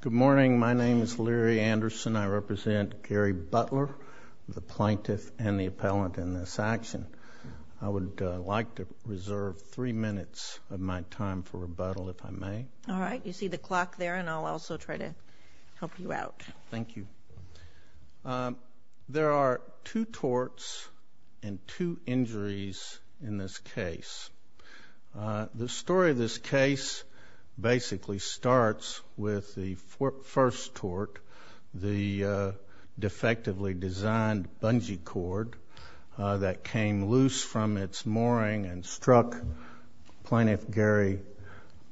Good morning. My name is Larry Anderson. I represent Gary Butler, the plaintiff and the appellant in this action. I would like to reserve three minutes of my time for rebuttal if I may. All right. You see the clock there, and I'll also try to help you out. Thank you. There are two torts and two injuries in this case. The story of this case basically starts with the first tort, the defectively designed bungee cord that came loose from its mooring and struck Plaintiff Gary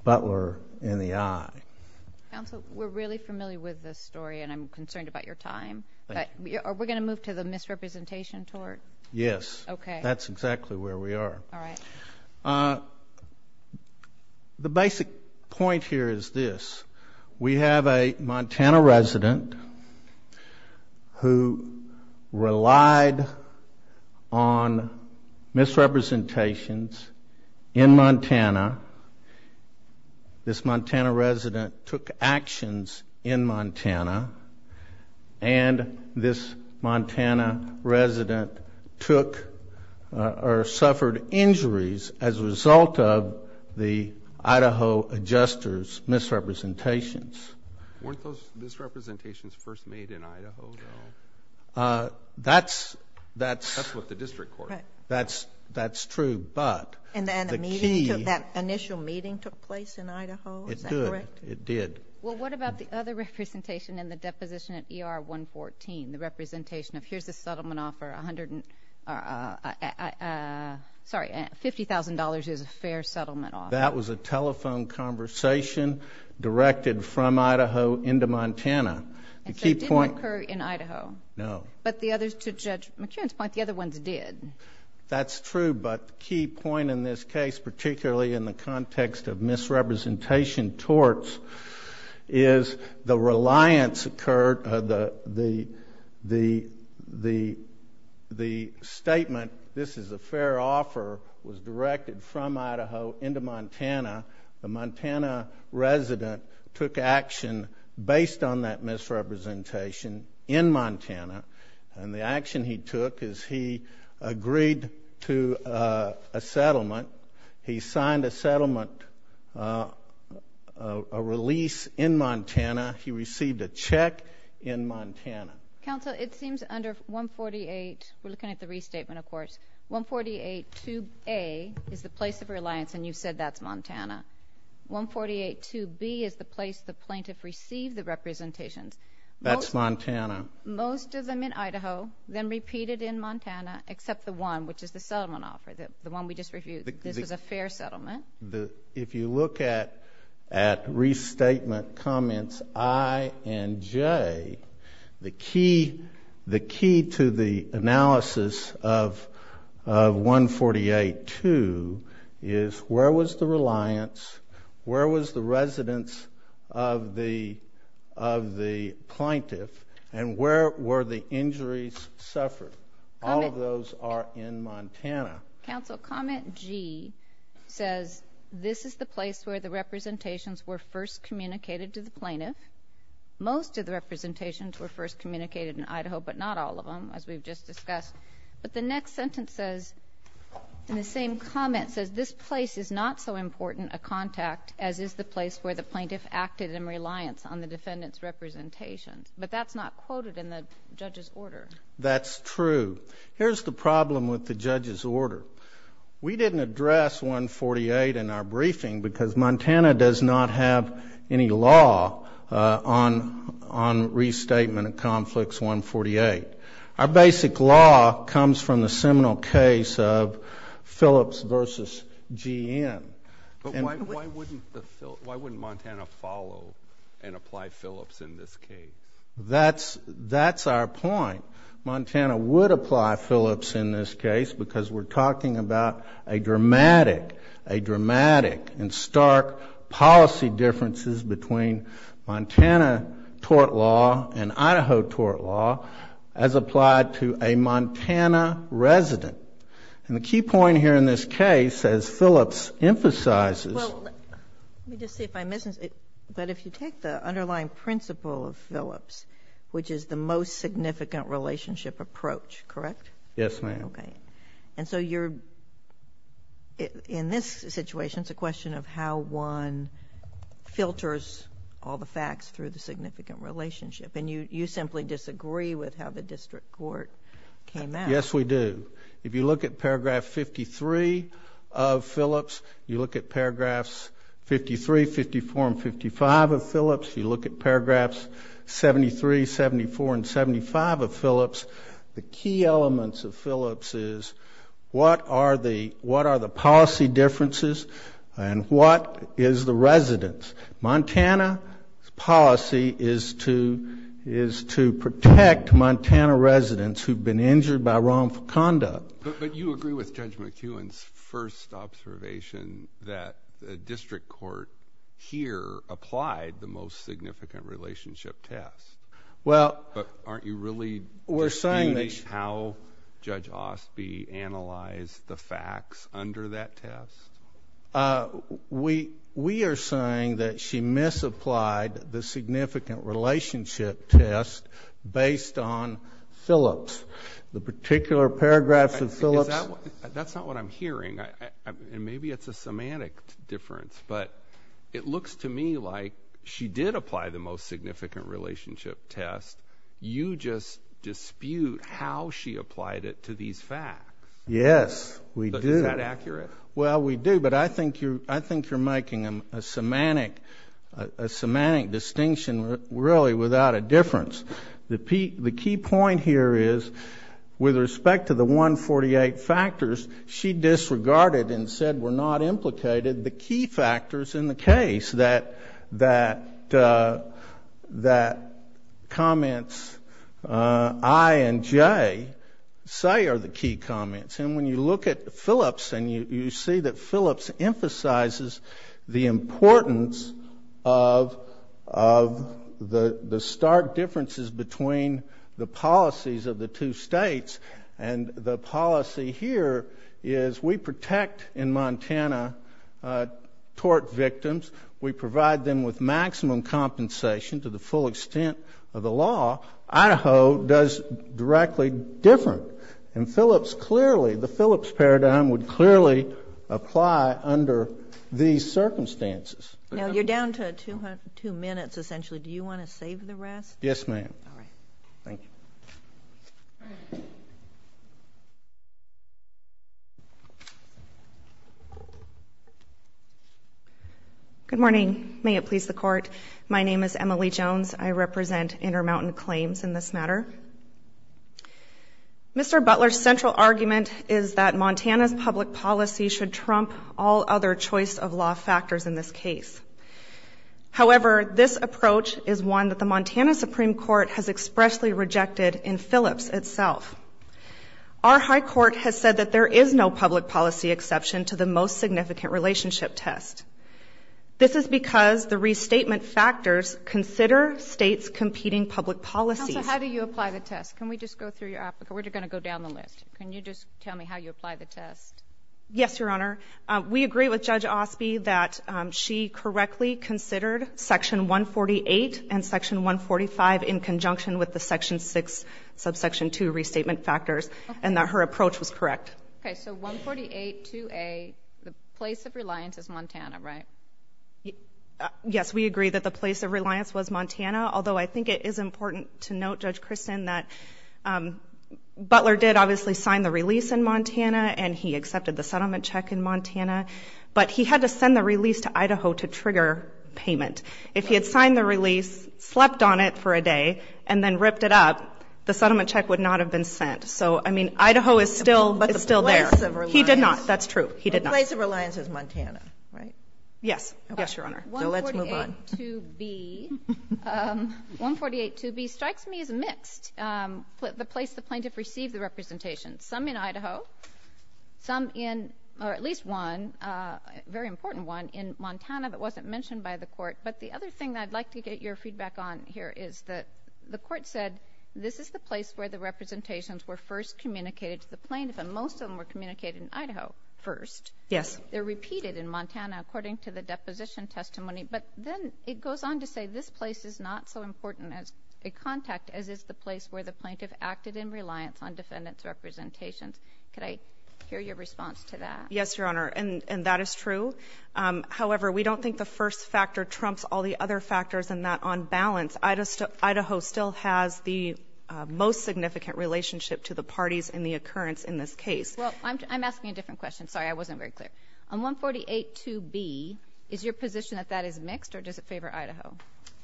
Butler in the eye. Counsel, we're really familiar with this story, and I'm concerned about your time. Thank you. Are we going to move to the misrepresentation tort? Yes. Okay. That's exactly where we are. All right. The basic point here is this. We have a Montana resident who relied on misrepresentations in Montana. This Montana resident took actions in Montana, and this Montana resident took or suffered injuries as a result of the Idaho adjuster's misrepresentations. Weren't those misrepresentations first made in Idaho, though? That's... That's what the district court... Correct. That's true, but the key... And that initial meeting took place in Idaho? It did. Is that correct? It did. Well, what about the other representation in the deposition at ER 114, the representation of here's a settlement offer, $50,000 is a fair settlement offer? That was a telephone conversation directed from Idaho into Montana. And so it didn't occur in Idaho? No. But the others, to Judge McKeon's point, the other ones did. That's true, but the key point in this case, particularly in the context of misrepresentation torts, is the reliance occurred, the statement, this is a fair offer, was directed from Idaho into Montana. The Montana resident took action based on that misrepresentation in Montana, and the action he took is he agreed to a settlement, he signed a settlement, a release in Montana, he received a check in Montana. Counsel, it seems under 148, we're looking at the restatement, of course, 148 2A is the place the plaintiff received the representations. That's Montana. Most of them in Idaho, then repeated in Montana, except the one, which is the settlement offer, the one we just reviewed. This is a fair settlement. If you look at restatement comments I and J, the key to the analysis of 148 2 is where was the reliance, where was the residence of the plaintiff, and where were the injuries suffered? All of those are in Montana. Counsel, comment G says this is the place where the representations were first communicated to the plaintiff. Most of the representations were first communicated in Idaho, but not all of them, as we've just discussed. But the next sentence says, in the same comment, says this place is not so important a contact as is the place where the plaintiff acted in reliance on the defendant's representations. But that's not quoted in the judge's order. That's true. Here's the problem with the judge's order. We didn't address 148 in our briefing because Montana does not have any law on restatement of Conflicts 148. Our basic law comes from the seminal case of Phillips v. G.M. But why wouldn't Montana follow and apply Phillips in this case? That's our point. Montana would apply Phillips in this case because we're talking about a dramatic and stark policy differences between Montana tort law and Idaho tort law as applied to a Montana resident. And the key point here in this case, as Phillips emphasizes Well, let me just see if I'm missing something. But if you take the underlying principle of Phillips, which is the most significant relationship approach, correct? Yes, ma'am. Okay. And so you're, in this situation, it's a question of how one filters all the facts through the significant relationship. And you simply disagree with how the district court came out. Yes, we do. If you look at paragraph 53 of Phillips, you look at paragraphs 53, 54, and 55 of Phillips, you look at paragraphs 73, 74, and 75 of Phillips. The key elements of Phillips is what are the policy differences and what is the residence? Montana's policy is to protect Montana residents who've been injured by wrongful conduct. But you agree with Judge McEwen's first observation that the district court here applied the most significant relationship test. But aren't you really disputing how Judge Osby analyzed the facts under that test? We are saying that she misapplied the significant relationship test based on Phillips. The particular paragraphs of Phillips That's not what I'm hearing. And maybe it's a semantic difference. But it looks to me like she did apply the most significant relationship test. You just dispute how she applied it to these facts. Yes, we do. Is that accurate? Well, we do. But I think you're making a semantic distinction, really, without a difference. The key point here is with respect to the 148 factors, she disregarded and said were not implicated the key factors in the case that comments I and J say are the key comments. And when you look at Phillips and you see that Phillips emphasizes the importance of the stark differences between the policies of the two states, and the policy here is we protect in Montana tort victims. We provide them with maximum compensation to the full extent of the law. Idaho does directly different. And Phillips clearly, the Phillips paradigm would clearly apply under these circumstances. Now, you're down to two minutes, essentially. Do you want to save the rest? Yes, ma'am. All right. Thank you. Good morning. May it please the Court. My name is Emily Jones. I represent Intermountain Claims in this matter. Mr. Butler's central argument is that Montana's public policy should trump all other choice of law factors in this case. However, this approach is one that the Montana Supreme Court has expressly rejected in Phillips itself. Our high court has said that there is no public policy exception to the most significant relationship test. This is because the restatement factors consider states' competing public policies. Counsel, how do you apply the test? Can we just go through your application? We're going to go down the list. Can you just tell me how you apply the test? Yes, Your Honor. We agree with Judge Osby that she correctly considered Section 148 and Section 145 in conjunction with the Section 6, Subsection 2 restatement factors, and that her approach was correct. Okay. So 148, 2A, the place of reliance is Montana, right? Yes, we agree that the place of reliance was Montana, although I think it is important to note, Judge Kristen, that Butler did obviously sign the release in Montana and he accepted the settlement check in Montana, but he had to send the release to Idaho to trigger payment. If he had signed the release, slept on it for a day, and then ripped it up, the settlement check would not have been sent. So, I mean, Idaho is still there. But the place of reliance. He did not. That's true. He did not. The place of reliance is Montana, right? Yes. Yes, Your Honor. So let's move on. 148, 2B. 148, 2B strikes me as mixed. The place the plaintiff received the representation. Some in Idaho. Some in, or at least one, a very important one, in Montana that wasn't mentioned by the court. But the other thing I'd like to get your feedback on here is that the court said this is the place where the representations were first communicated to the plaintiff, and most of them were communicated in Idaho first. Yes. They're repeated in Montana according to the deposition testimony. But then it goes on to say this place is not so important as a contact as is the place where the plaintiff acted in reliance on defendant's representations. Could I hear your response to that? Yes, Your Honor, and that is true. However, we don't think the first factor trumps all the other factors in that, on balance, Idaho still has the most significant relationship to the parties in the occurrence in this case. Well, I'm asking a different question. Sorry, I wasn't very clear. On 148-2B, is your position that that is mixed, or does it favor Idaho?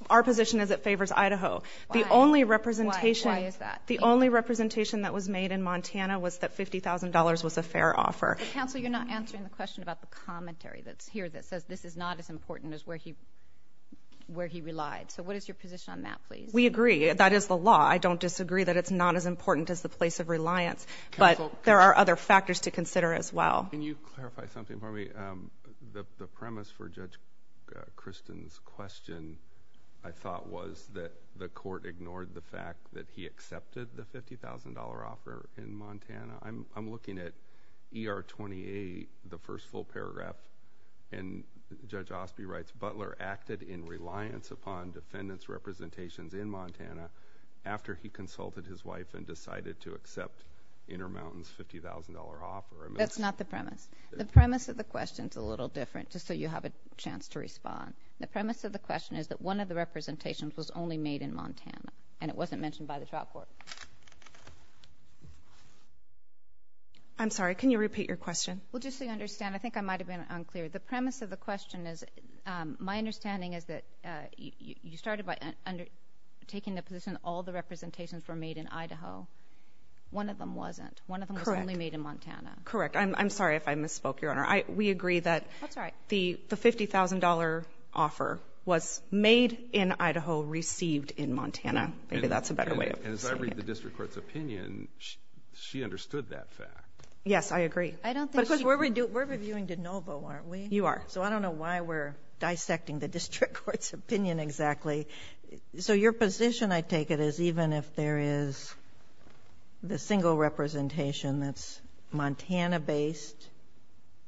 Our position is it favors Idaho. Why? Why is that? The only representation that was made in Montana was that $50,000 was a fair offer. But, counsel, you're not answering the question about the commentary that's here that says this is not as important as where he relied. So what is your position on that, please? We agree. That is the law. I don't disagree that it's not as important as the place of reliance. But there are other factors to consider as well. Can you clarify something for me? The premise for Judge Kristen's question, I thought, was that the court ignored the fact that he accepted the $50,000 offer in Montana. I'm looking at ER-28, the first full paragraph, and Judge Osby writes, Butler acted in reliance upon defendant's representations in Montana after he consulted his wife and decided to accept Intermountain's $50,000 offer. That's not the premise. The premise of the question is a little different, just so you have a chance to respond. The premise of the question is that one of the representations was only made in Montana, and it wasn't mentioned by the trial court. I'm sorry. Can you repeat your question? Well, just so you understand, I think I might have been unclear. The premise of the question is, my understanding is that you started by taking the position that all the representations were made in Idaho. One of them wasn't. One of them was only made in Montana. I'm sorry if I misspoke, Your Honor. We agree that the $50,000 offer was made in Idaho, received in Montana. Maybe that's a better way of saying it. And as I read the district court's opinion, she understood that fact. Yes, I agree. Because we're reviewing de novo, aren't we? You are. So I don't know why we're dissecting the district court's opinion exactly. So your position, I take it, is even if there is the single representation that's Montana-based,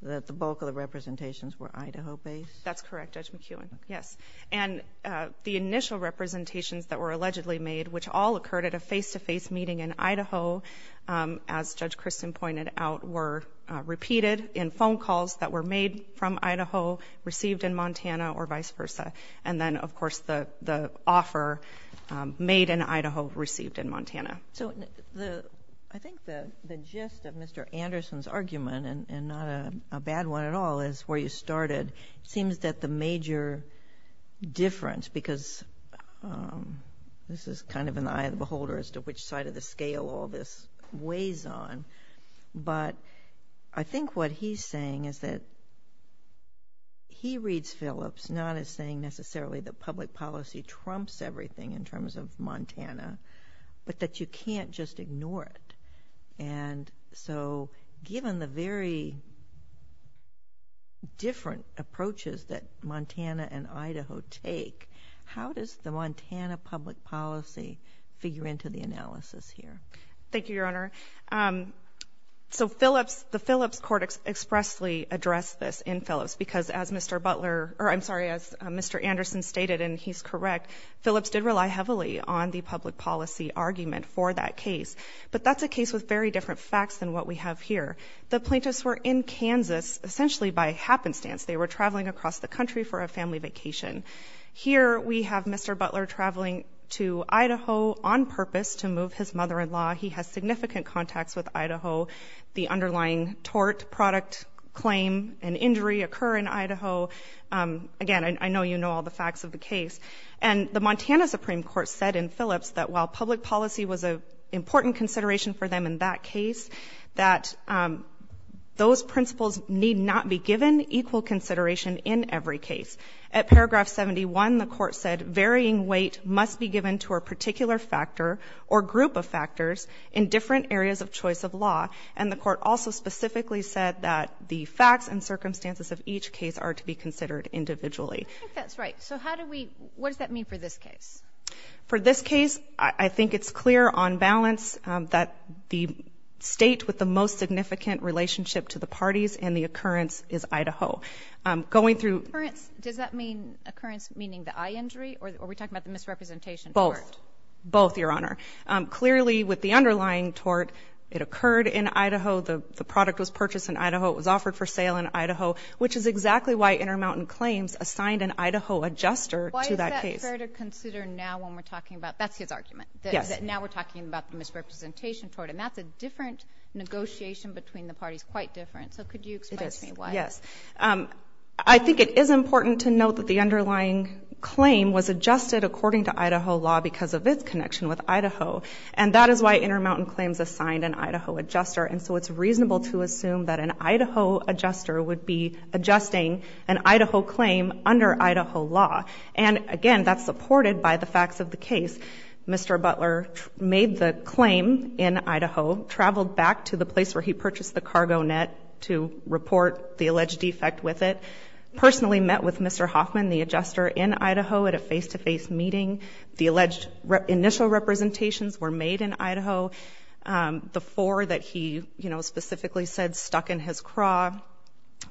that the bulk of the representations were Idaho-based? That's correct, Judge McEwen. Yes. And the initial representations that were allegedly made, which all occurred at a face-to-face meeting in Idaho, as Judge Christen pointed out, were repeated in phone calls that were made from Idaho, received in Montana, or vice versa. And then, of course, the offer made in Idaho, received in Montana. So I think the gist of Mr. Anderson's argument, and not a bad one at all, is where you started. It seems that the major difference, because this is kind of an eye of the beholder as to which side of the scale all this weighs on, but I think what he's saying is that he reads Phillips not as saying necessarily that public policy trumps everything in terms of Montana, but that you can't just ignore it. And so given the very different approaches that Montana and Idaho take, how does the Montana public policy figure into the analysis here? Thank you, Your Honor. So Phillips, the Phillips court expressly addressed this in Phillips because as Mr. Butler, or I'm sorry, as Mr. Anderson stated, and he's correct, Phillips did rely heavily on the public policy argument for that case. But that's a case with very different facts than what we have here. The plaintiffs were in Kansas essentially by happenstance. They were traveling across the country for a family vacation. Here we have Mr. Butler traveling to Idaho on purpose to move his mother-in-law. He has significant contacts with Idaho. The underlying tort, product, claim, and injury occur in Idaho. Again, I know you know all the facts of the case. And the Montana Supreme Court said in Phillips that while public policy was an important consideration for them in that case, that those principles need not be given equal consideration in every case. At paragraph 71, the court said varying weight must be given to a particular factor or group of factors in different areas of choice of law. And the court also specifically said that the facts and circumstances of each case are to be considered individually. I think that's right. So how do we – what does that mean for this case? For this case, I think it's clear on balance that the state with the most significant relationship to the parties in the occurrence is Idaho. Going through – Occurrence, does that mean occurrence meaning the eye injury? Or are we talking about the misrepresentation? Both. Both, Your Honor. Clearly, with the underlying tort, it occurred in Idaho. The product was purchased in Idaho. It was offered for sale in Idaho, which is exactly why Intermountain Claims assigned an Idaho adjuster to that case. Why is that fair to consider now when we're talking about – that's his argument. Yes. That now we're talking about the misrepresentation tort. And that's a different negotiation between the parties, quite different. So could you explain to me why? It is. Yes. I think it is important to note that the underlying claim was adjusted according to Idaho law because of its connection with Idaho. And that is why Intermountain Claims assigned an Idaho adjuster. And so it's reasonable to assume that an Idaho adjuster would be adjusting an Idaho claim under Idaho law. And, again, that's supported by the facts of the case. Mr. Butler made the claim in Idaho, traveled back to the place where he purchased the cargo net to report the alleged defect with it, personally met with Mr. Hoffman, the adjuster, in Idaho at a face-to-face meeting. The alleged initial representations were made in Idaho. The four that he, you know, specifically said stuck in his craw.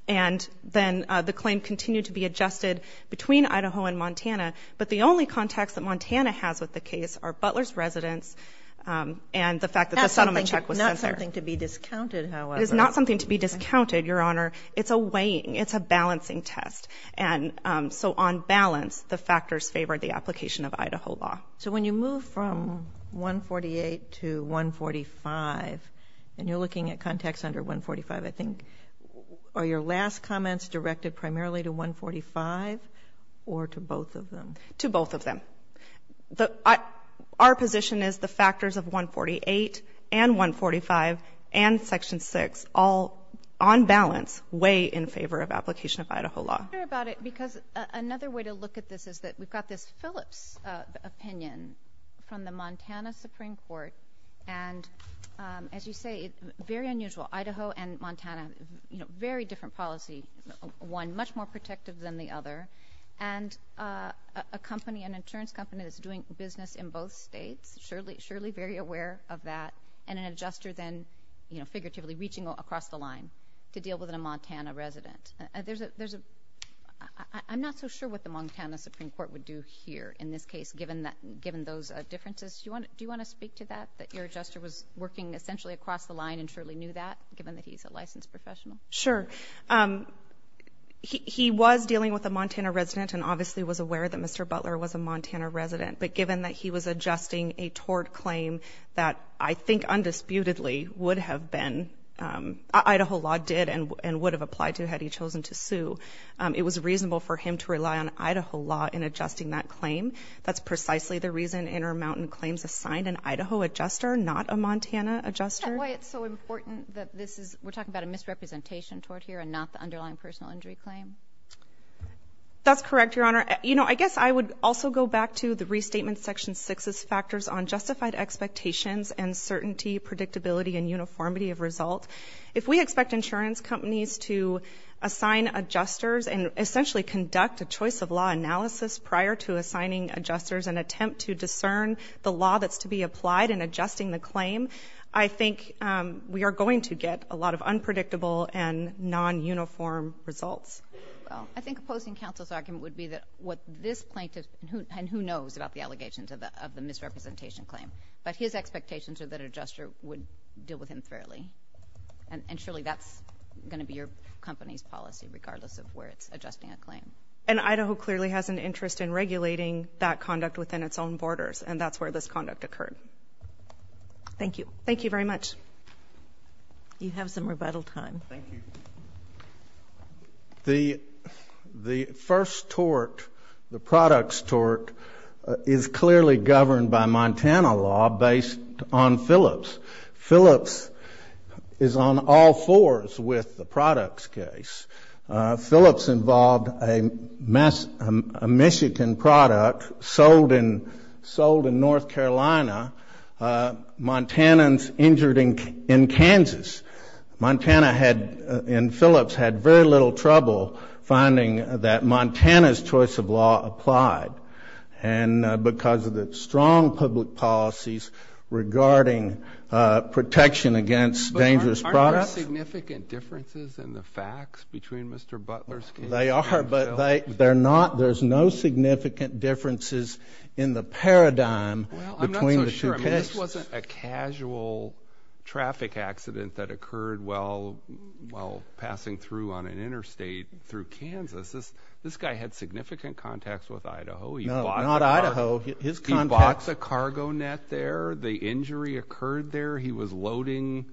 And then the claim continued to be adjusted between Idaho and Montana. But the only contacts that Montana has with the case are Butler's residence and the fact that the settlement check was sent there. Not something to be discounted, however. It is not something to be discounted, Your Honor. It's a weighing. It's a balancing test. And so on balance, the factors favor the application of Idaho law. So when you move from 148 to 145, and you're looking at contacts under 145, I think are your last comments directed primarily to 145 or to both of them? To both of them. Our position is the factors of 148 and 145 and Section 6 all, on balance, weigh in favor of application of Idaho law. I wonder about it because another way to look at this is that we've got this Phillips opinion from the Montana Supreme Court. And as you say, very unusual. Idaho and Montana, you know, very different policy. One much more protective than the other. And a company, an insurance company that's doing business in both states, surely very aware of that, and an adjuster then, you know, figuratively reaching across the line to deal with a Montana resident. There's a – I'm not so sure what the Montana Supreme Court would do here in this case, given those differences. Do you want to speak to that, that your adjuster was working essentially across the line and surely knew that, given that he's a licensed professional? Sure. He was dealing with a Montana resident and obviously was aware that Mr. Butler was a Montana resident. But given that he was adjusting a tort claim that I think undisputedly would have been – Idaho law did and would have applied to had he chosen to sue, it was reasonable for him to rely on Idaho law in adjusting that claim. That's precisely the reason Intermountain Claims assigned an Idaho adjuster, not a Montana adjuster. That's why it's so important that this is – we're talking about a misrepresentation tort here and not the underlying personal injury claim. That's correct, Your Honor. You know, I guess I would also go back to the Restatement Section 6's factors on justified expectations and certainty, predictability, and uniformity of result. If we expect insurance companies to assign adjusters and essentially conduct a choice of law analysis prior to assigning adjusters and attempt to discern the law that's to be applied in adjusting the claim, I think we are going to get a lot of unpredictable and non-uniform results. I think opposing counsel's argument would be that what this plaintiff – and who knows about the allegations of the misrepresentation claim, but his expectations are that an adjuster would deal with him fairly. And surely that's going to be your company's policy, regardless of where it's adjusting a claim. And Idaho clearly has an interest in regulating that conduct within its own borders, and that's where this conduct occurred. Thank you. Thank you very much. You have some rebuttal time. Thank you. The first tort, the products tort, is clearly governed by Montana law based on Phillips. Phillips is on all fours with the products case. Phillips involved a Michigan product sold in North Carolina. Montanans injured in Kansas. Montana and Phillips had very little trouble finding that Montana's choice of law applied. And because of the strong public policies regarding protection against dangerous products. But aren't there significant differences in the facts between Mr. Butler's case and Phillips? They are, but they're not. There's no significant differences in the paradigm between the two cases. Well, I'm not so sure. I mean, this wasn't a casual traffic accident that occurred while passing through on an interstate through Kansas. This guy had significant contacts with Idaho. No, not Idaho. His contacts. He bought the cargo net there. The injury occurred there. He was loading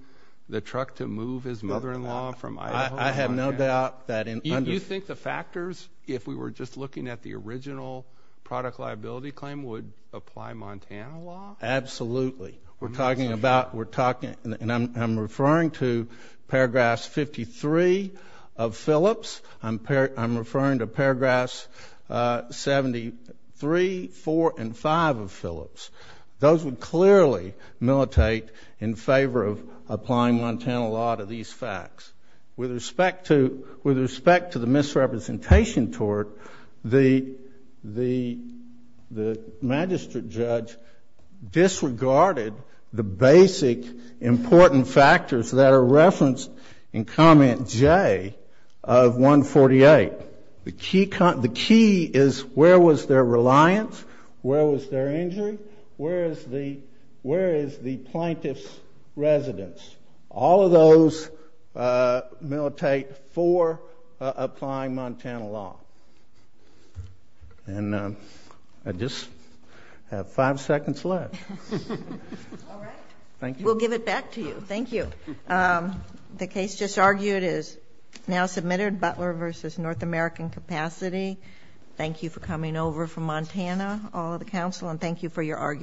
the truck to move his mother-in-law from Idaho to Montana. I have no doubt that. You think the factors, if we were just looking at the original product liability claim, would apply Montana law? Absolutely. We're talking about, we're talking, and I'm referring to paragraphs 53 of Phillips. I'm referring to paragraphs 73, 4, and 5 of Phillips. Those would clearly militate in favor of applying Montana law to these facts. With respect to the misrepresentation tort, the magistrate judge disregarded the basic important factors that are referenced in comment J of 148. The key is where was their reliance, where was their injury, where is the plaintiff's residence. All of those militate for applying Montana law. And I just have five seconds left. All right. Thank you. We'll give it back to you. Thank you. The case just argued is now submitted, Butler v. North American Capacity. Thank you for coming over from Montana, all of the counsel, and thank you for your argument.